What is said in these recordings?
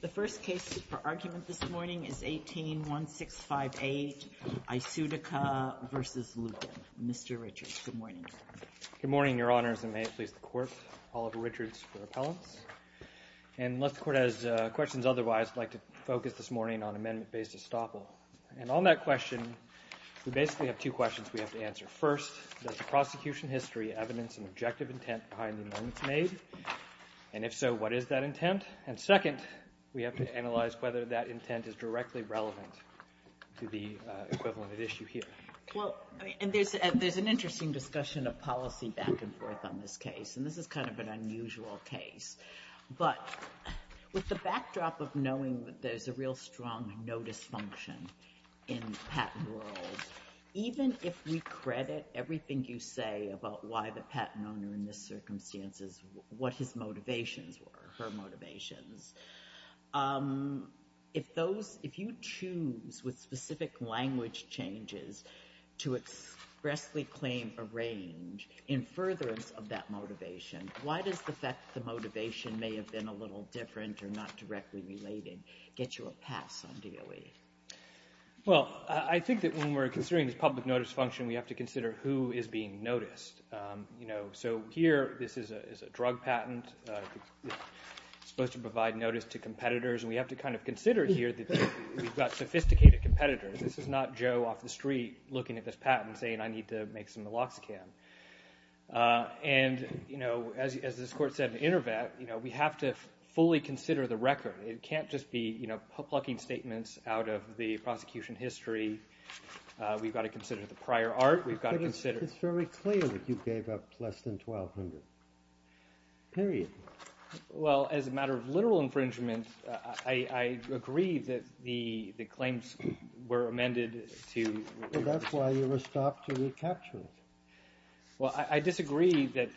The first case for argument this morning is 18-1658, iCeutica v. Lupin. Mr. Richards, good morning. Good morning, Your Honors, and may it please the Court. Oliver Richards for appellants. And unless the Court has questions otherwise, I'd like to focus this morning on amendment based estoppel. And on that question, we basically have two questions we have to answer. First, does the prosecution history evidence an objective intent behind the amendments made? And if so, what is that intent? And second, we have to analyze whether that intent is directly relevant to the equivalent at issue here. Well, there's an interesting discussion of policy back and forth on this case, and this is kind of an unusual case. But with the backdrop of knowing that there's a real strong no dysfunction in patent rules, even if we credit everything you say about why the patent owner in this circumstance, what his motivations were, her motivations, if you choose with specific language changes to expressly claim a range in furtherance of that motivation, why does the fact that the motivation may have been a little different or not directly related get you a pass on DOE? Well, I think that when we're considering this public notice function, we have to consider who is being noticed. So here, this is a drug patent. It's supposed to provide notice to competitors, and we have to kind of consider here that we've got sophisticated competitors. This is not Joe off the street looking at this patent saying I need to make some Naloxone. And as this Court said in Intervet, we have to fully consider the record. It can't just be plucking statements out of the prosecution history. We've got to consider the prior art. It's very clear that you gave up less than $1,200, period. Well, as a matter of literal infringement, I agree that the claims were amended. Well, that's why you were stopped to recapture it. Well, I disagree that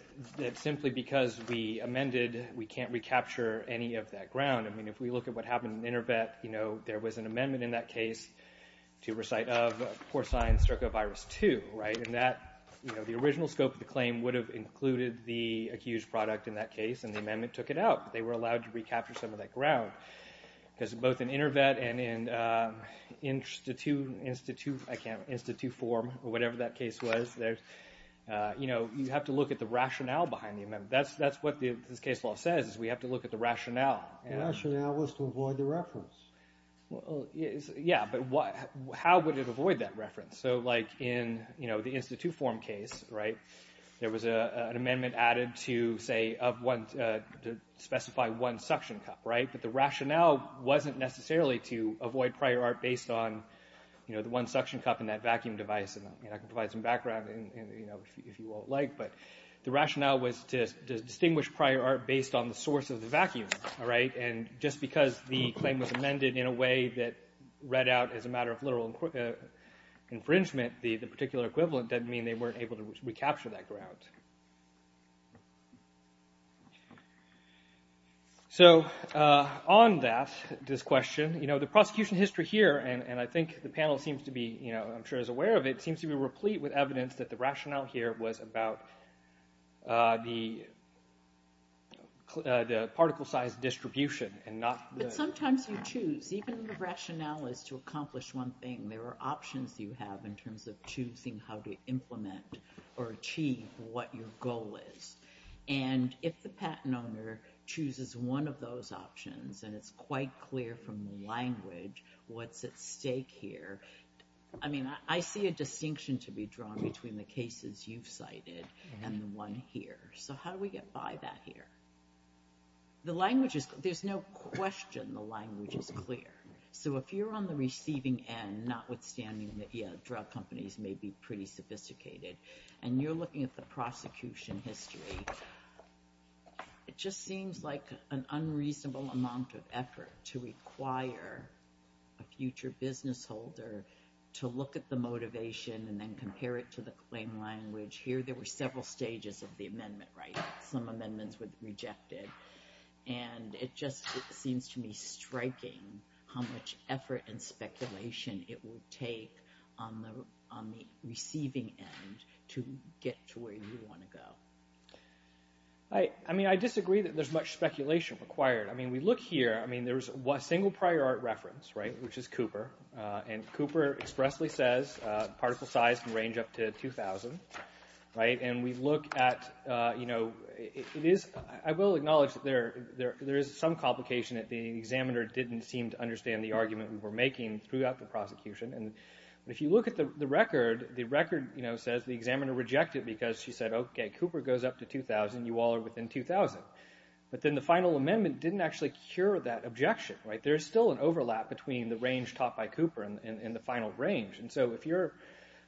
simply because we amended, we can't recapture any of that ground. I mean, if we look at what happened in Intervet, you know, there was an amendment in that case to recite of porcine stercovirus-2, right? And that, you know, the original scope of the claim would have included the accused product in that case, and the amendment took it out. But they were allowed to recapture some of that ground because both in Intervet and in institute form or whatever that case was, you know, you have to look at the rationale behind the amendment. That's what this case law says is we have to look at the rationale. The rationale was to avoid the reference. Yeah, but how would it avoid that reference? So like in, you know, the institute form case, right, there was an amendment added to say of one, to specify one suction cup, right? But the rationale wasn't necessarily to avoid prior art based on, you know, the one suction cup in that vacuum device. And I can provide some background, you know, if you all like. But the rationale was to distinguish prior art based on the source of the vacuum, all right? And just because the claim was amended in a way that read out as a matter of literal infringement, the particular equivalent doesn't mean they weren't able to recapture that ground. So on that, this question, you know, the prosecution history here, and I think the panel seems to be, you know, I'm sure is aware of it, seems to be replete with evidence that the rationale here was about the particle size distribution and not. But sometimes you choose even the rationale is to accomplish one thing. There are options you have in terms of choosing how to implement or achieve what your goal is. And if the patent owner chooses one of those options and it's quite clear from the language, what's at stake here? I mean, I see a distinction to be drawn between the cases you've cited and the one here. So how do we get by that here? The language is, there's no question the language is clear. So if you're on the receiving end, notwithstanding that, yeah, drug companies may be pretty sophisticated, and you're looking at the prosecution history, it just seems like an unreasonable amount of effort to require a future business holder to look at the motivation and then compare it to the claim language. Here, there were several stages of the amendment, right? Some amendments were rejected. And it just seems to me striking how much effort and speculation it will take on the receiving end to get to where you want to go. I mean, I disagree that there's much speculation required. I mean, we look here, I mean, there's a single prior art reference, right, which is Cooper. And Cooper expressly says particle size can range up to 2,000, right? And we look at, you know, it is, I will acknowledge that there is some complication that the examiner didn't seem to understand the argument we were making throughout the prosecution. And if you look at the record, the record, you know, says the examiner rejected because she said, okay, Cooper goes up to 2,000, you all are within 2,000. But then the final amendment didn't actually cure that objection, right? There's still an overlap between the range taught by Cooper and the final range. And so if you're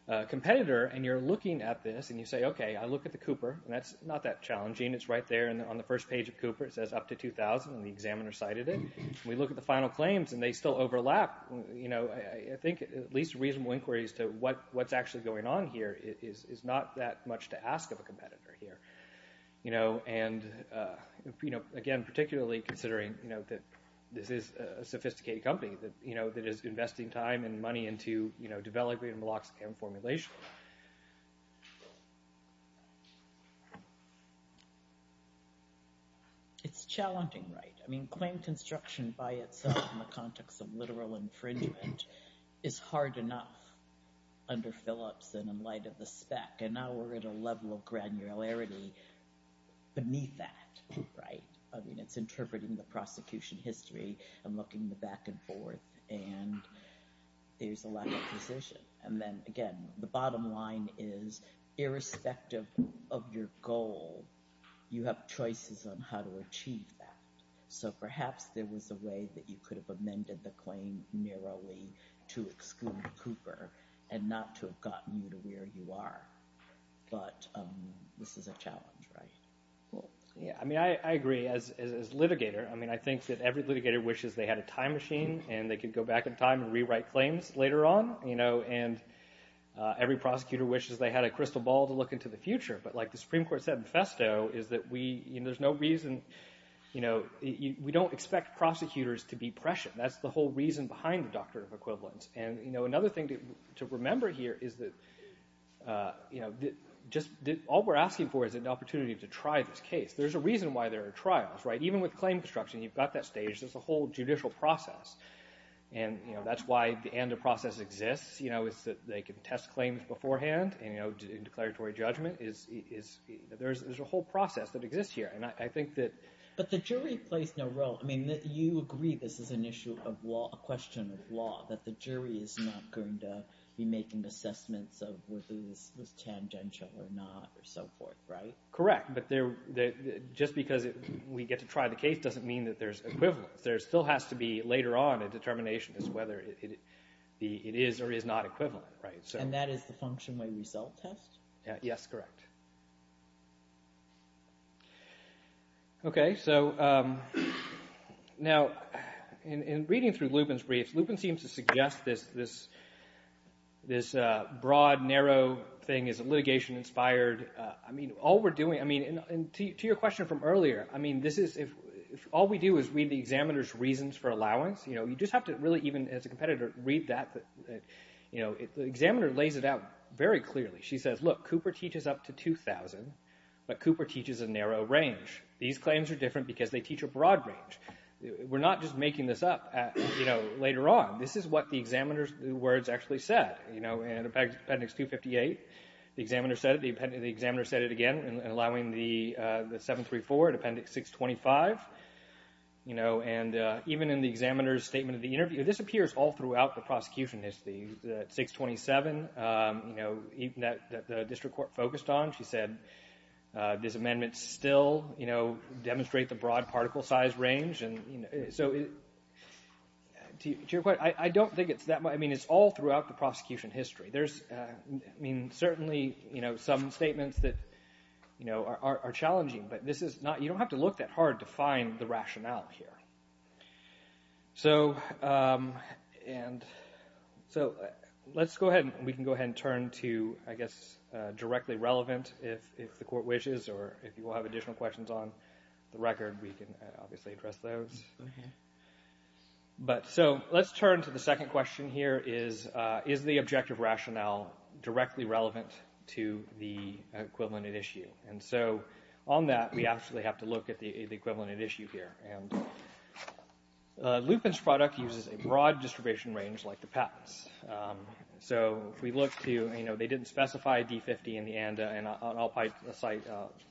a competitor and you're looking at this and you say, okay, I look at the Cooper, and that's not that challenging. It's right there on the first page of Cooper. It says up to 2,000, and the examiner cited it. We look at the final claims, and they still overlap. You know, I think at least a reasonable inquiry as to what's actually going on here is not that much to ask of a competitor here. You know, and, you know, again, particularly considering, you know, that this is a sophisticated company that, you know, that is investing time and money into, you know, development and formulation. It's challenging, right? I mean, claim construction by itself in the context of literal infringement is hard enough under Phillips and in light of the spec. And now we're at a level of granularity beneath that, right? I mean, it's interpreting the prosecution history and looking back and forth, and there's a lack of precision. And then, again, the bottom line is irrespective of your goal, you have choices on how to achieve that. So perhaps there was a way that you could have amended the claim narrowly to exclude Cooper and not to have gotten you to where you are. But this is a challenge, right? Yeah, I mean, I agree. I mean, I think that every litigator wishes they had a time machine and they could go back in time and rewrite claims later on, you know, and every prosecutor wishes they had a crystal ball to look into the future. But like the Supreme Court said in Festo is that we, you know, there's no reason, you know, we don't expect prosecutors to be prescient. That's the whole reason behind the doctrine of equivalence. And, you know, another thing to remember here is that, you know, just all we're asking for is an opportunity to try this case. There's a reason why there are trials, right? Even with claim construction, you've got that stage. There's a whole judicial process. And, you know, that's why the ANDA process exists, you know, is that they can test claims beforehand and, you know, declaratory judgment is – there's a whole process that exists here. And I think that – But the jury plays no role. I mean, you agree this is an issue of law – a question of law, that the jury is not going to be making assessments of whether this was tangential or not or so forth, right? Correct. But just because we get to try the case doesn't mean that there's equivalence. There still has to be later on a determination as to whether it is or is not equivalent, right? And that is the function when we self-test? Yes, correct. Okay, so now in reading through Lupin's briefs, Lupin seems to suggest this broad, narrow thing is litigation-inspired. I mean, all we're doing – I mean, to your question from earlier, I mean, this is – if all we do is read the examiner's reasons for allowance, you know, you just have to really even, as a competitor, read that. You know, the examiner lays it out very clearly. She says, look, Cooper teaches up to 2,000, but Cooper teaches a narrow range. These claims are different because they teach a broad range. We're not just making this up, you know, later on. This is what the examiner's words actually said, you know, in Appendix 258. The examiner said it. The examiner said it again in allowing the 734 in Appendix 625, you know, and even in the examiner's statement of the interview, this appears all throughout the prosecution. It's the 627, you know, that the district court focused on. She said this amendment still, you know, demonstrate the broad particle size range. And so to your point, I don't think it's that – I mean, it's all throughout the prosecution history. There's – I mean, certainly, you know, some statements that, you know, are challenging, but this is not – you don't have to look that hard to find the rationale here. So let's go ahead and we can go ahead and turn to, I guess, directly relevant if the court wishes or if you all have additional questions on the record, we can obviously address those. But so let's turn to the second question here is, is the objective rationale directly relevant to the equivalent at issue? And so on that, we actually have to look at the equivalent at issue here. And Lupin's product uses a broad distribution range like the patents. So if we look to, you know, they didn't specify D50 in the ANDA, and I'll cite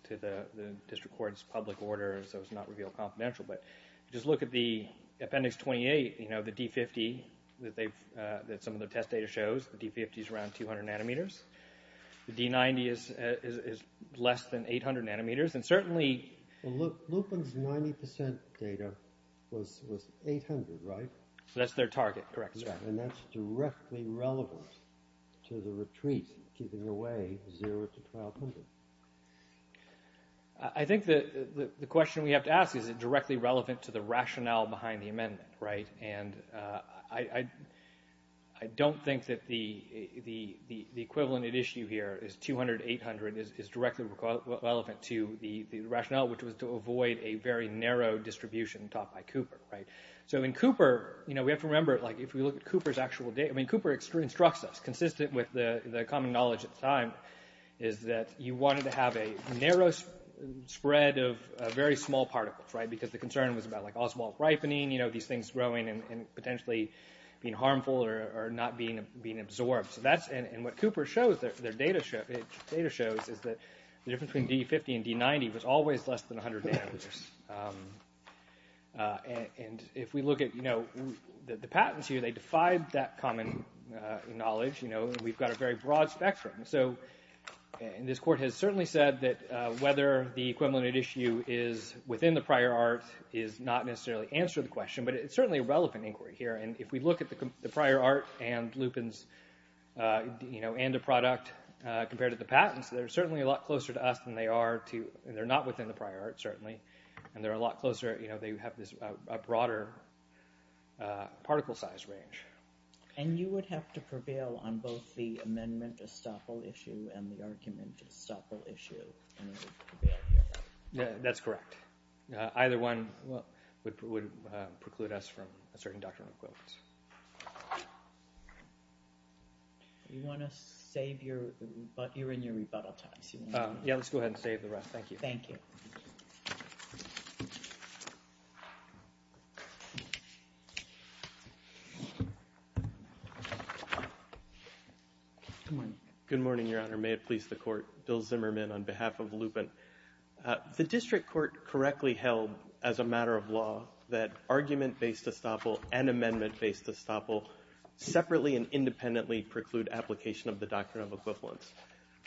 to the district court's public order so it's not revealed confidential, but just look at the Appendix 28, you know, the D50 that they've – that some of the test data shows. The D50 is around 200 nanometers. The D90 is less than 800 nanometers. And certainly – Well, look, Lupin's 90 percent data was 800, right? So that's their target, correct, sir. And that's directly relevant to the retreat giving away 0 to 1,200. I think that the question we have to ask is, is it directly relevant to the rationale behind the amendment, right? And I don't think that the equivalent at issue here is 200, 800, is directly relevant to the rationale, which was to avoid a very narrow distribution taught by Cooper, right? So in Cooper, you know, we have to remember, like, if we look at Cooper's actual data, I mean, Cooper instructs us, consistent with the common knowledge at the time, is that you wanted to have a narrow spread of very small particles, right, because the concern was about, like, osmotic ripening, you know, these things growing and potentially being harmful or not being absorbed. So that's – and what Cooper shows, their data shows, is that the difference between D50 and D90 was always less than 100 nanometers. And if we look at, you know, the patents here, they defied that common knowledge. You know, we've got a very broad spectrum. So this court has certainly said that whether the equivalent at issue is within the prior art is not necessarily the answer to the question, but it's certainly a relevant inquiry here. And if we look at the prior art and Lupin's, you know, and the product compared to the patents, they're certainly a lot closer to us than they are to – they're not within the prior art, certainly, and they're a lot closer – you know, they have this broader particle size range. And you would have to prevail on both the amendment estoppel issue and the argument estoppel issue in order to prevail here? Yeah, that's correct. Either one would preclude us from asserting doctrinal equivalence. You want to save your – you're in your rebuttal times. Yeah, let's go ahead and save the rest. Thank you. Thank you. Good morning. Good morning, Your Honor. May it please the Court. Bill Zimmerman on behalf of Lupin. The district court correctly held, as a matter of law, that argument-based estoppel and amendment-based estoppel separately and independently preclude application of the doctrine of equivalence.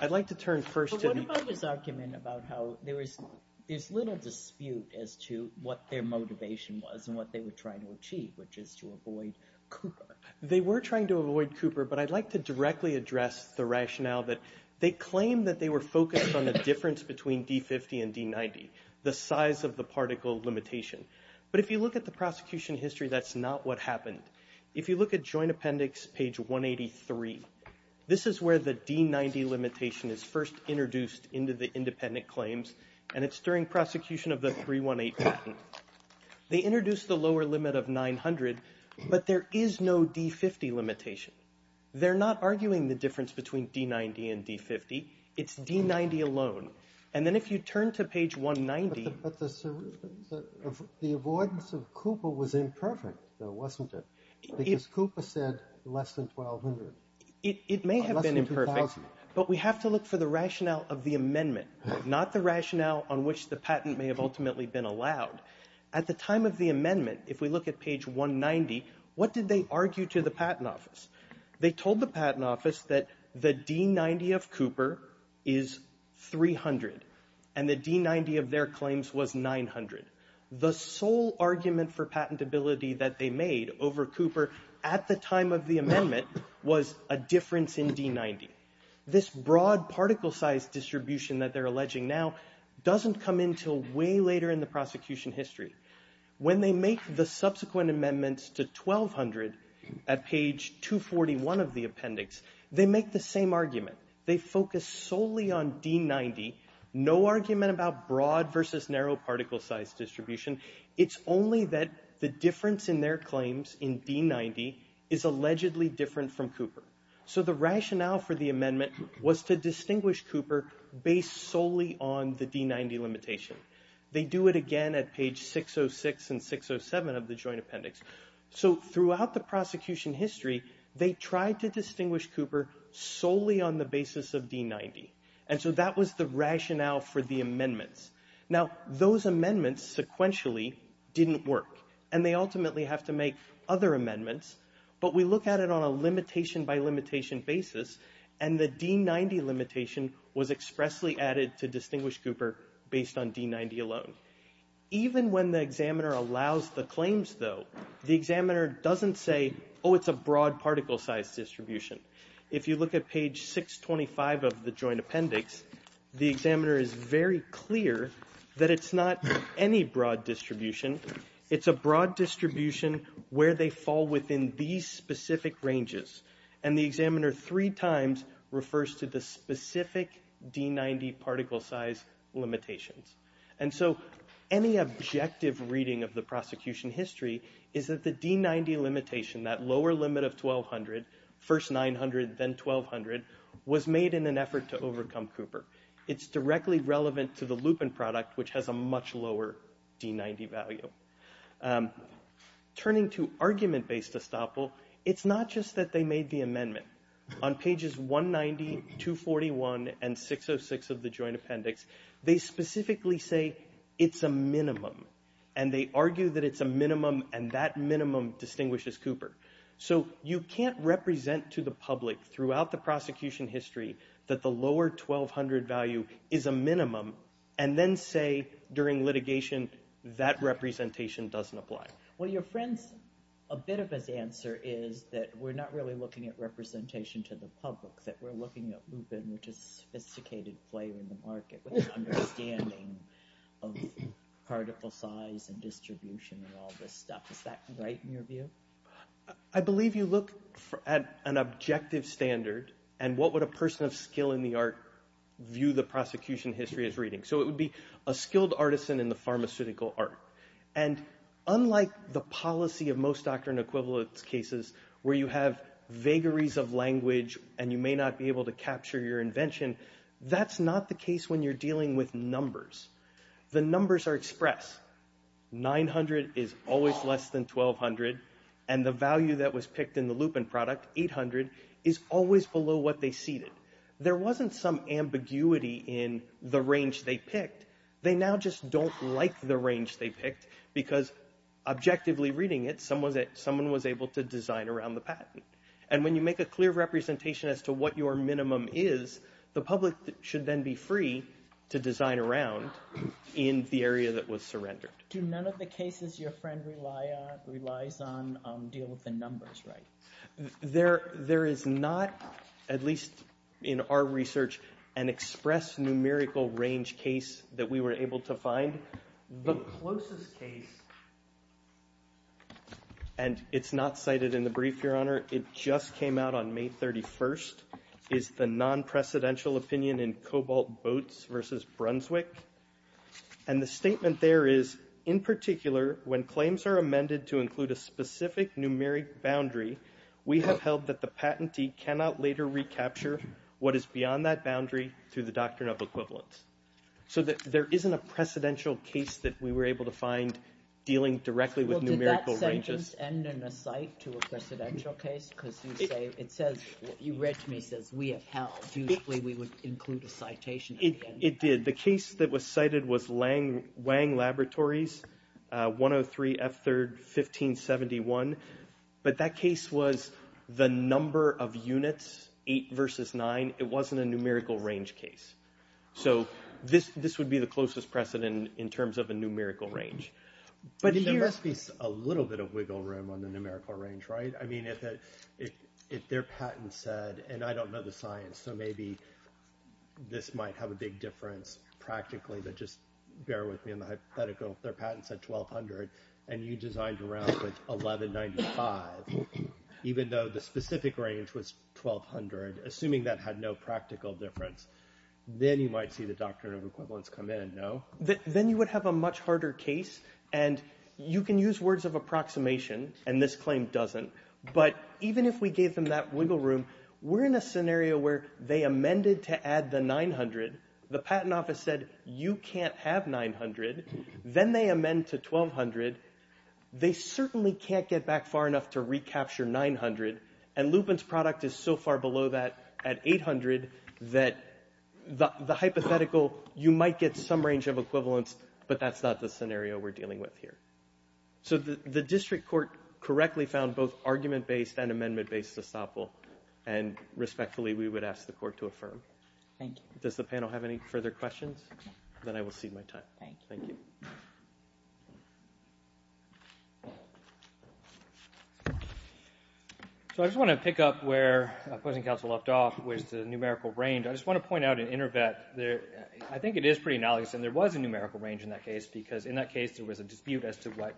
I'd like to turn first to the – But what about his argument about how there was – there's little dispute as to what their motivation was and what they were trying to achieve, which is to avoid Cooper. They were trying to avoid Cooper, but I'd like to directly address the rationale that they claim that they were focused on the difference between D50 and D90, the size of the particle limitation. But if you look at the prosecution history, that's not what happened. If you look at Joint Appendix page 183, this is where the D90 limitation is first introduced into the independent claims, and it's during prosecution of the 318 patent. They introduced the lower limit of 900, but there is no D50 limitation. They're not arguing the difference between D90 and D50. It's D90 alone. And then if you turn to page 190 – But the avoidance of Cooper was imperfect, though, wasn't it? Because Cooper said less than 1,200. It may have been imperfect, but we have to look for the rationale of the amendment, not the rationale on which the patent may have ultimately been allowed. At the time of the amendment, if we look at page 190, what did they argue to the patent office? They told the patent office that the D90 of Cooper is 300, and the D90 of their claims was 900. The sole argument for patentability that they made over Cooper at the time of the amendment was a difference in D90. This broad particle size distribution that they're alleging now doesn't come until way later in the prosecution history. When they make the subsequent amendments to 1,200 at page 241 of the appendix, they make the same argument. They focus solely on D90, no argument about broad versus narrow particle size distribution. It's only that the difference in their claims in D90 is allegedly different from Cooper. So the rationale for the amendment was to distinguish Cooper based solely on the D90 limitation. They do it again at page 606 and 607 of the joint appendix. So throughout the prosecution history, they tried to distinguish Cooper solely on the basis of D90, and so that was the rationale for the amendments. Now, those amendments sequentially didn't work, and they ultimately have to make other amendments, but we look at it on a limitation-by-limitation basis, and the D90 limitation was expressly added to distinguish Cooper based on D90 alone. Even when the examiner allows the claims, though, the examiner doesn't say, oh, it's a broad particle size distribution. If you look at page 625 of the joint appendix, the examiner is very clear that it's not any broad distribution. It's a broad distribution where they fall within these specific ranges, and the examiner three times refers to the specific D90 particle size limitations. And so any objective reading of the prosecution history is that the D90 limitation, that lower limit of 1,200, first 900, then 1,200, was made in an effort to overcome Cooper. It's directly relevant to the Lupin product, which has a much lower D90 value. Turning to argument-based estoppel, it's not just that they made the amendment. On pages 190, 241, and 606 of the joint appendix, they specifically say it's a minimum, and they argue that it's a minimum, and that minimum distinguishes Cooper. So you can't represent to the public throughout the prosecution history that the lower 1,200 value is a minimum and then say during litigation that representation doesn't apply. Well, your friend's, a bit of his answer is that we're not really looking at representation to the public, that we're looking at Lupin, which is a sophisticated flavor in the market with an understanding of particle size and distribution and all this stuff. Is that right in your view? I believe you look at an objective standard, and what would a person of skill in the art view the prosecution history as reading? So it would be a skilled artisan in the pharmaceutical art. And unlike the policy of most doctrine equivalence cases where you have vagaries of language and you may not be able to capture your invention, that's not the case when you're dealing with numbers. The numbers are express. 900 is always less than 1,200, and the value that was picked in the Lupin product, 800, is always below what they seeded. There wasn't some ambiguity in the range they picked. They now just don't like the range they picked because objectively reading it, someone was able to design around the patent. And when you make a clear representation as to what your minimum is, the public should then be free to design around in the area that was surrendered. Do none of the cases your friend relies on deal with the numbers, right? There is not, at least in our research, an express numerical range case that we were able to find. The closest case, and it's not cited in the brief, Your Honor, it just came out on May 31st, is the non-precedential opinion in Cobalt Boats v. Brunswick. And the statement there is, in particular, when claims are amended to include a specific numeric boundary, we have held that the patentee cannot later recapture what is beyond that boundary through the doctrine of equivalence. So there isn't a precedential case that we were able to find dealing directly with numerical ranges. Well, did that sentence end in a cite to a precedential case? Because it says, you read to me, it says, we have held, usually we would include a citation. It did. The case that was cited was Wang Laboratories, But that case was the number of units, eight versus nine, it wasn't a numerical range case. So this would be the closest precedent in terms of a numerical range. There must be a little bit of wiggle room on the numerical range, right? I mean, if their patent said, and I don't know the science, so maybe this might have a big difference practically, but just bear with me on the hypothetical, if their patent said 1,200, and you designed around with 1,195, even though the specific range was 1,200, assuming that had no practical difference, then you might see the doctrine of equivalence come in, no? Then you would have a much harder case, and you can use words of approximation, and this claim doesn't, but even if we gave them that wiggle room, we're in a scenario where they amended to add the 900, the patent office said, you can't have 900, then they amend to 1,200, they certainly can't get back far enough to recapture 900, and Lupin's product is so far below that at 800 that the hypothetical, you might get some range of equivalence, but that's not the scenario we're dealing with here. So the district court correctly found both argument-based and amendment-based estoppel, and respectfully, we would ask the court to affirm. Does the panel have any further questions? Then I will cede my time. Thank you. So I just want to pick up where opposing counsel left off, which is the numerical range. I just want to point out in InterVet, I think it is pretty analogous, and there was a numerical range in that case, because in that case there was a dispute as to what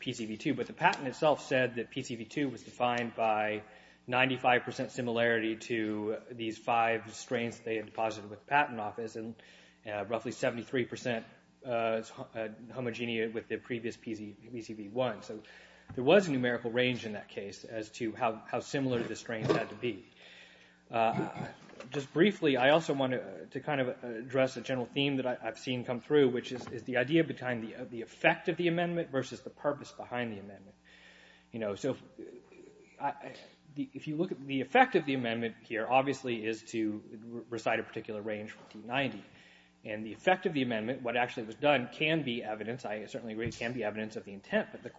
PCV2, but the patent itself said that PCV2 was defined by 95% similarity to these five strains they had deposited with the patent office, and roughly 73% homogeneous with the previous PCV1. So there was a numerical range in that case as to how similar the strains had to be. Just briefly, I also want to kind of address a general theme that I've seen come through, which is the idea behind the effect of the amendment versus the purpose behind the amendment. So if you look at the effect of the amendment here, obviously is to recite a particular range for T90, and the effect of the amendment, what actually was done can be evidence, I certainly agree it can be evidence of the intent, but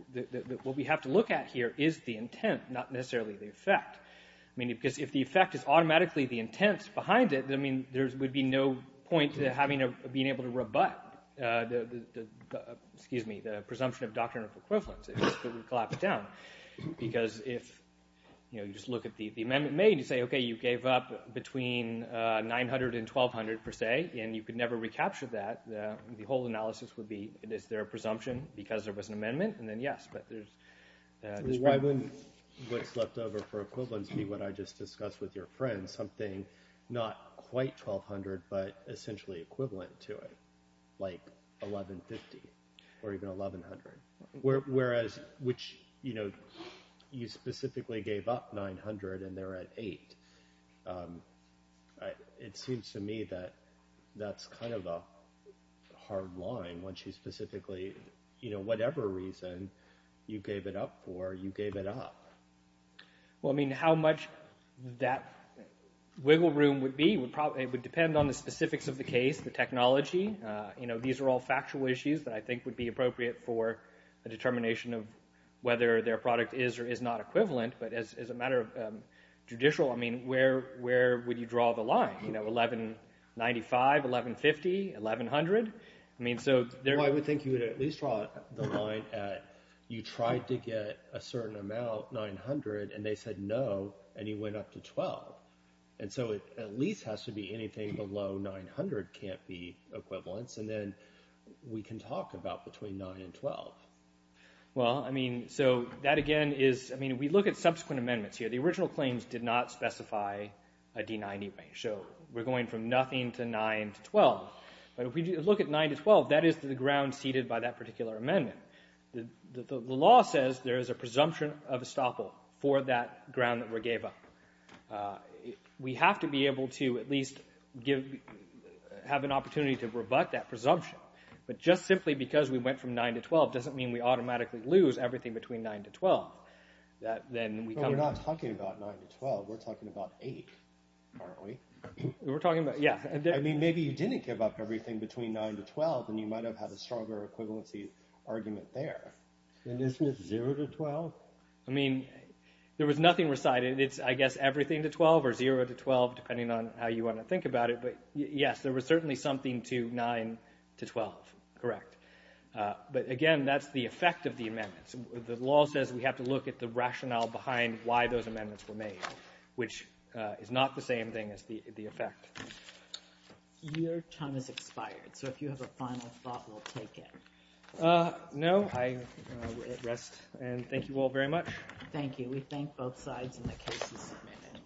what we have to look at here is the intent, not necessarily the effect. Because if the effect is automatically the intent behind it, there would be no point to being able to rebut the presumption of doctrinal equivalence. It would collapse down, because if you just look at the amendment made, and you say, okay, you gave up between 900 and 1200 per se, and you could never recapture that, the whole analysis would be, is there a presumption, because there was an amendment, and then yes, but there's... Why wouldn't what's left over for equivalence be what I just discussed with your friend, something not quite 1200, but essentially equivalent to it, like 1150, or even 1100? Whereas, which, you know, you specifically gave up 900, and they're at 8. It seems to me that that's kind of a hard line, once you specifically, you know, whatever reason you gave it up for, you gave it up. Well, I mean, how much that wiggle room would be would depend on the specifics of the case, the technology. You know, these are all factual issues that I think would be appropriate for a determination of whether their product is or is not equivalent, but as a matter of judicial, I mean, where would you draw the line? You know, 1195, 1150, 1100? I mean, so... Well, I would think you would at least draw the line at you tried to get a certain amount, 900, and they said no, and you went up to 12. And so it at least has to be anything below 900 can't be equivalence, and then we can talk about between 9 and 12. Well, I mean, so that again is... I mean, if we look at subsequent amendments here, the original claims did not specify a D-90 range, so we're going from nothing to 9 to 12, but if we look at 9 to 12, that is the ground ceded by that particular amendment. The law says there is a presumption of estoppel for that ground that we gave up. We have to be able to at least have an opportunity to rebut that presumption, but just simply because we went from 9 to 12 doesn't mean we automatically lose everything between 9 to 12. We're not talking about 9 to 12. We're talking about 8, aren't we? We're talking about... yeah. I mean, maybe you didn't give up everything between 9 to 12, and you might have had a stronger equivalency argument there. And isn't it 0 to 12? I mean, there was nothing recited. It's, I guess, everything to 12 or 0 to 12, depending on how you want to think about it, but yes, there was certainly something to 9 to 12, correct. But again, that's the effect of the amendments. The law says we have to look at the rationale behind why those amendments were made, which is not the same thing as the effect. Your time has expired, so if you have a final thought, we'll take it. No, I will rest, and thank you all very much. Thank you. We thank both sides, and the case is submitted.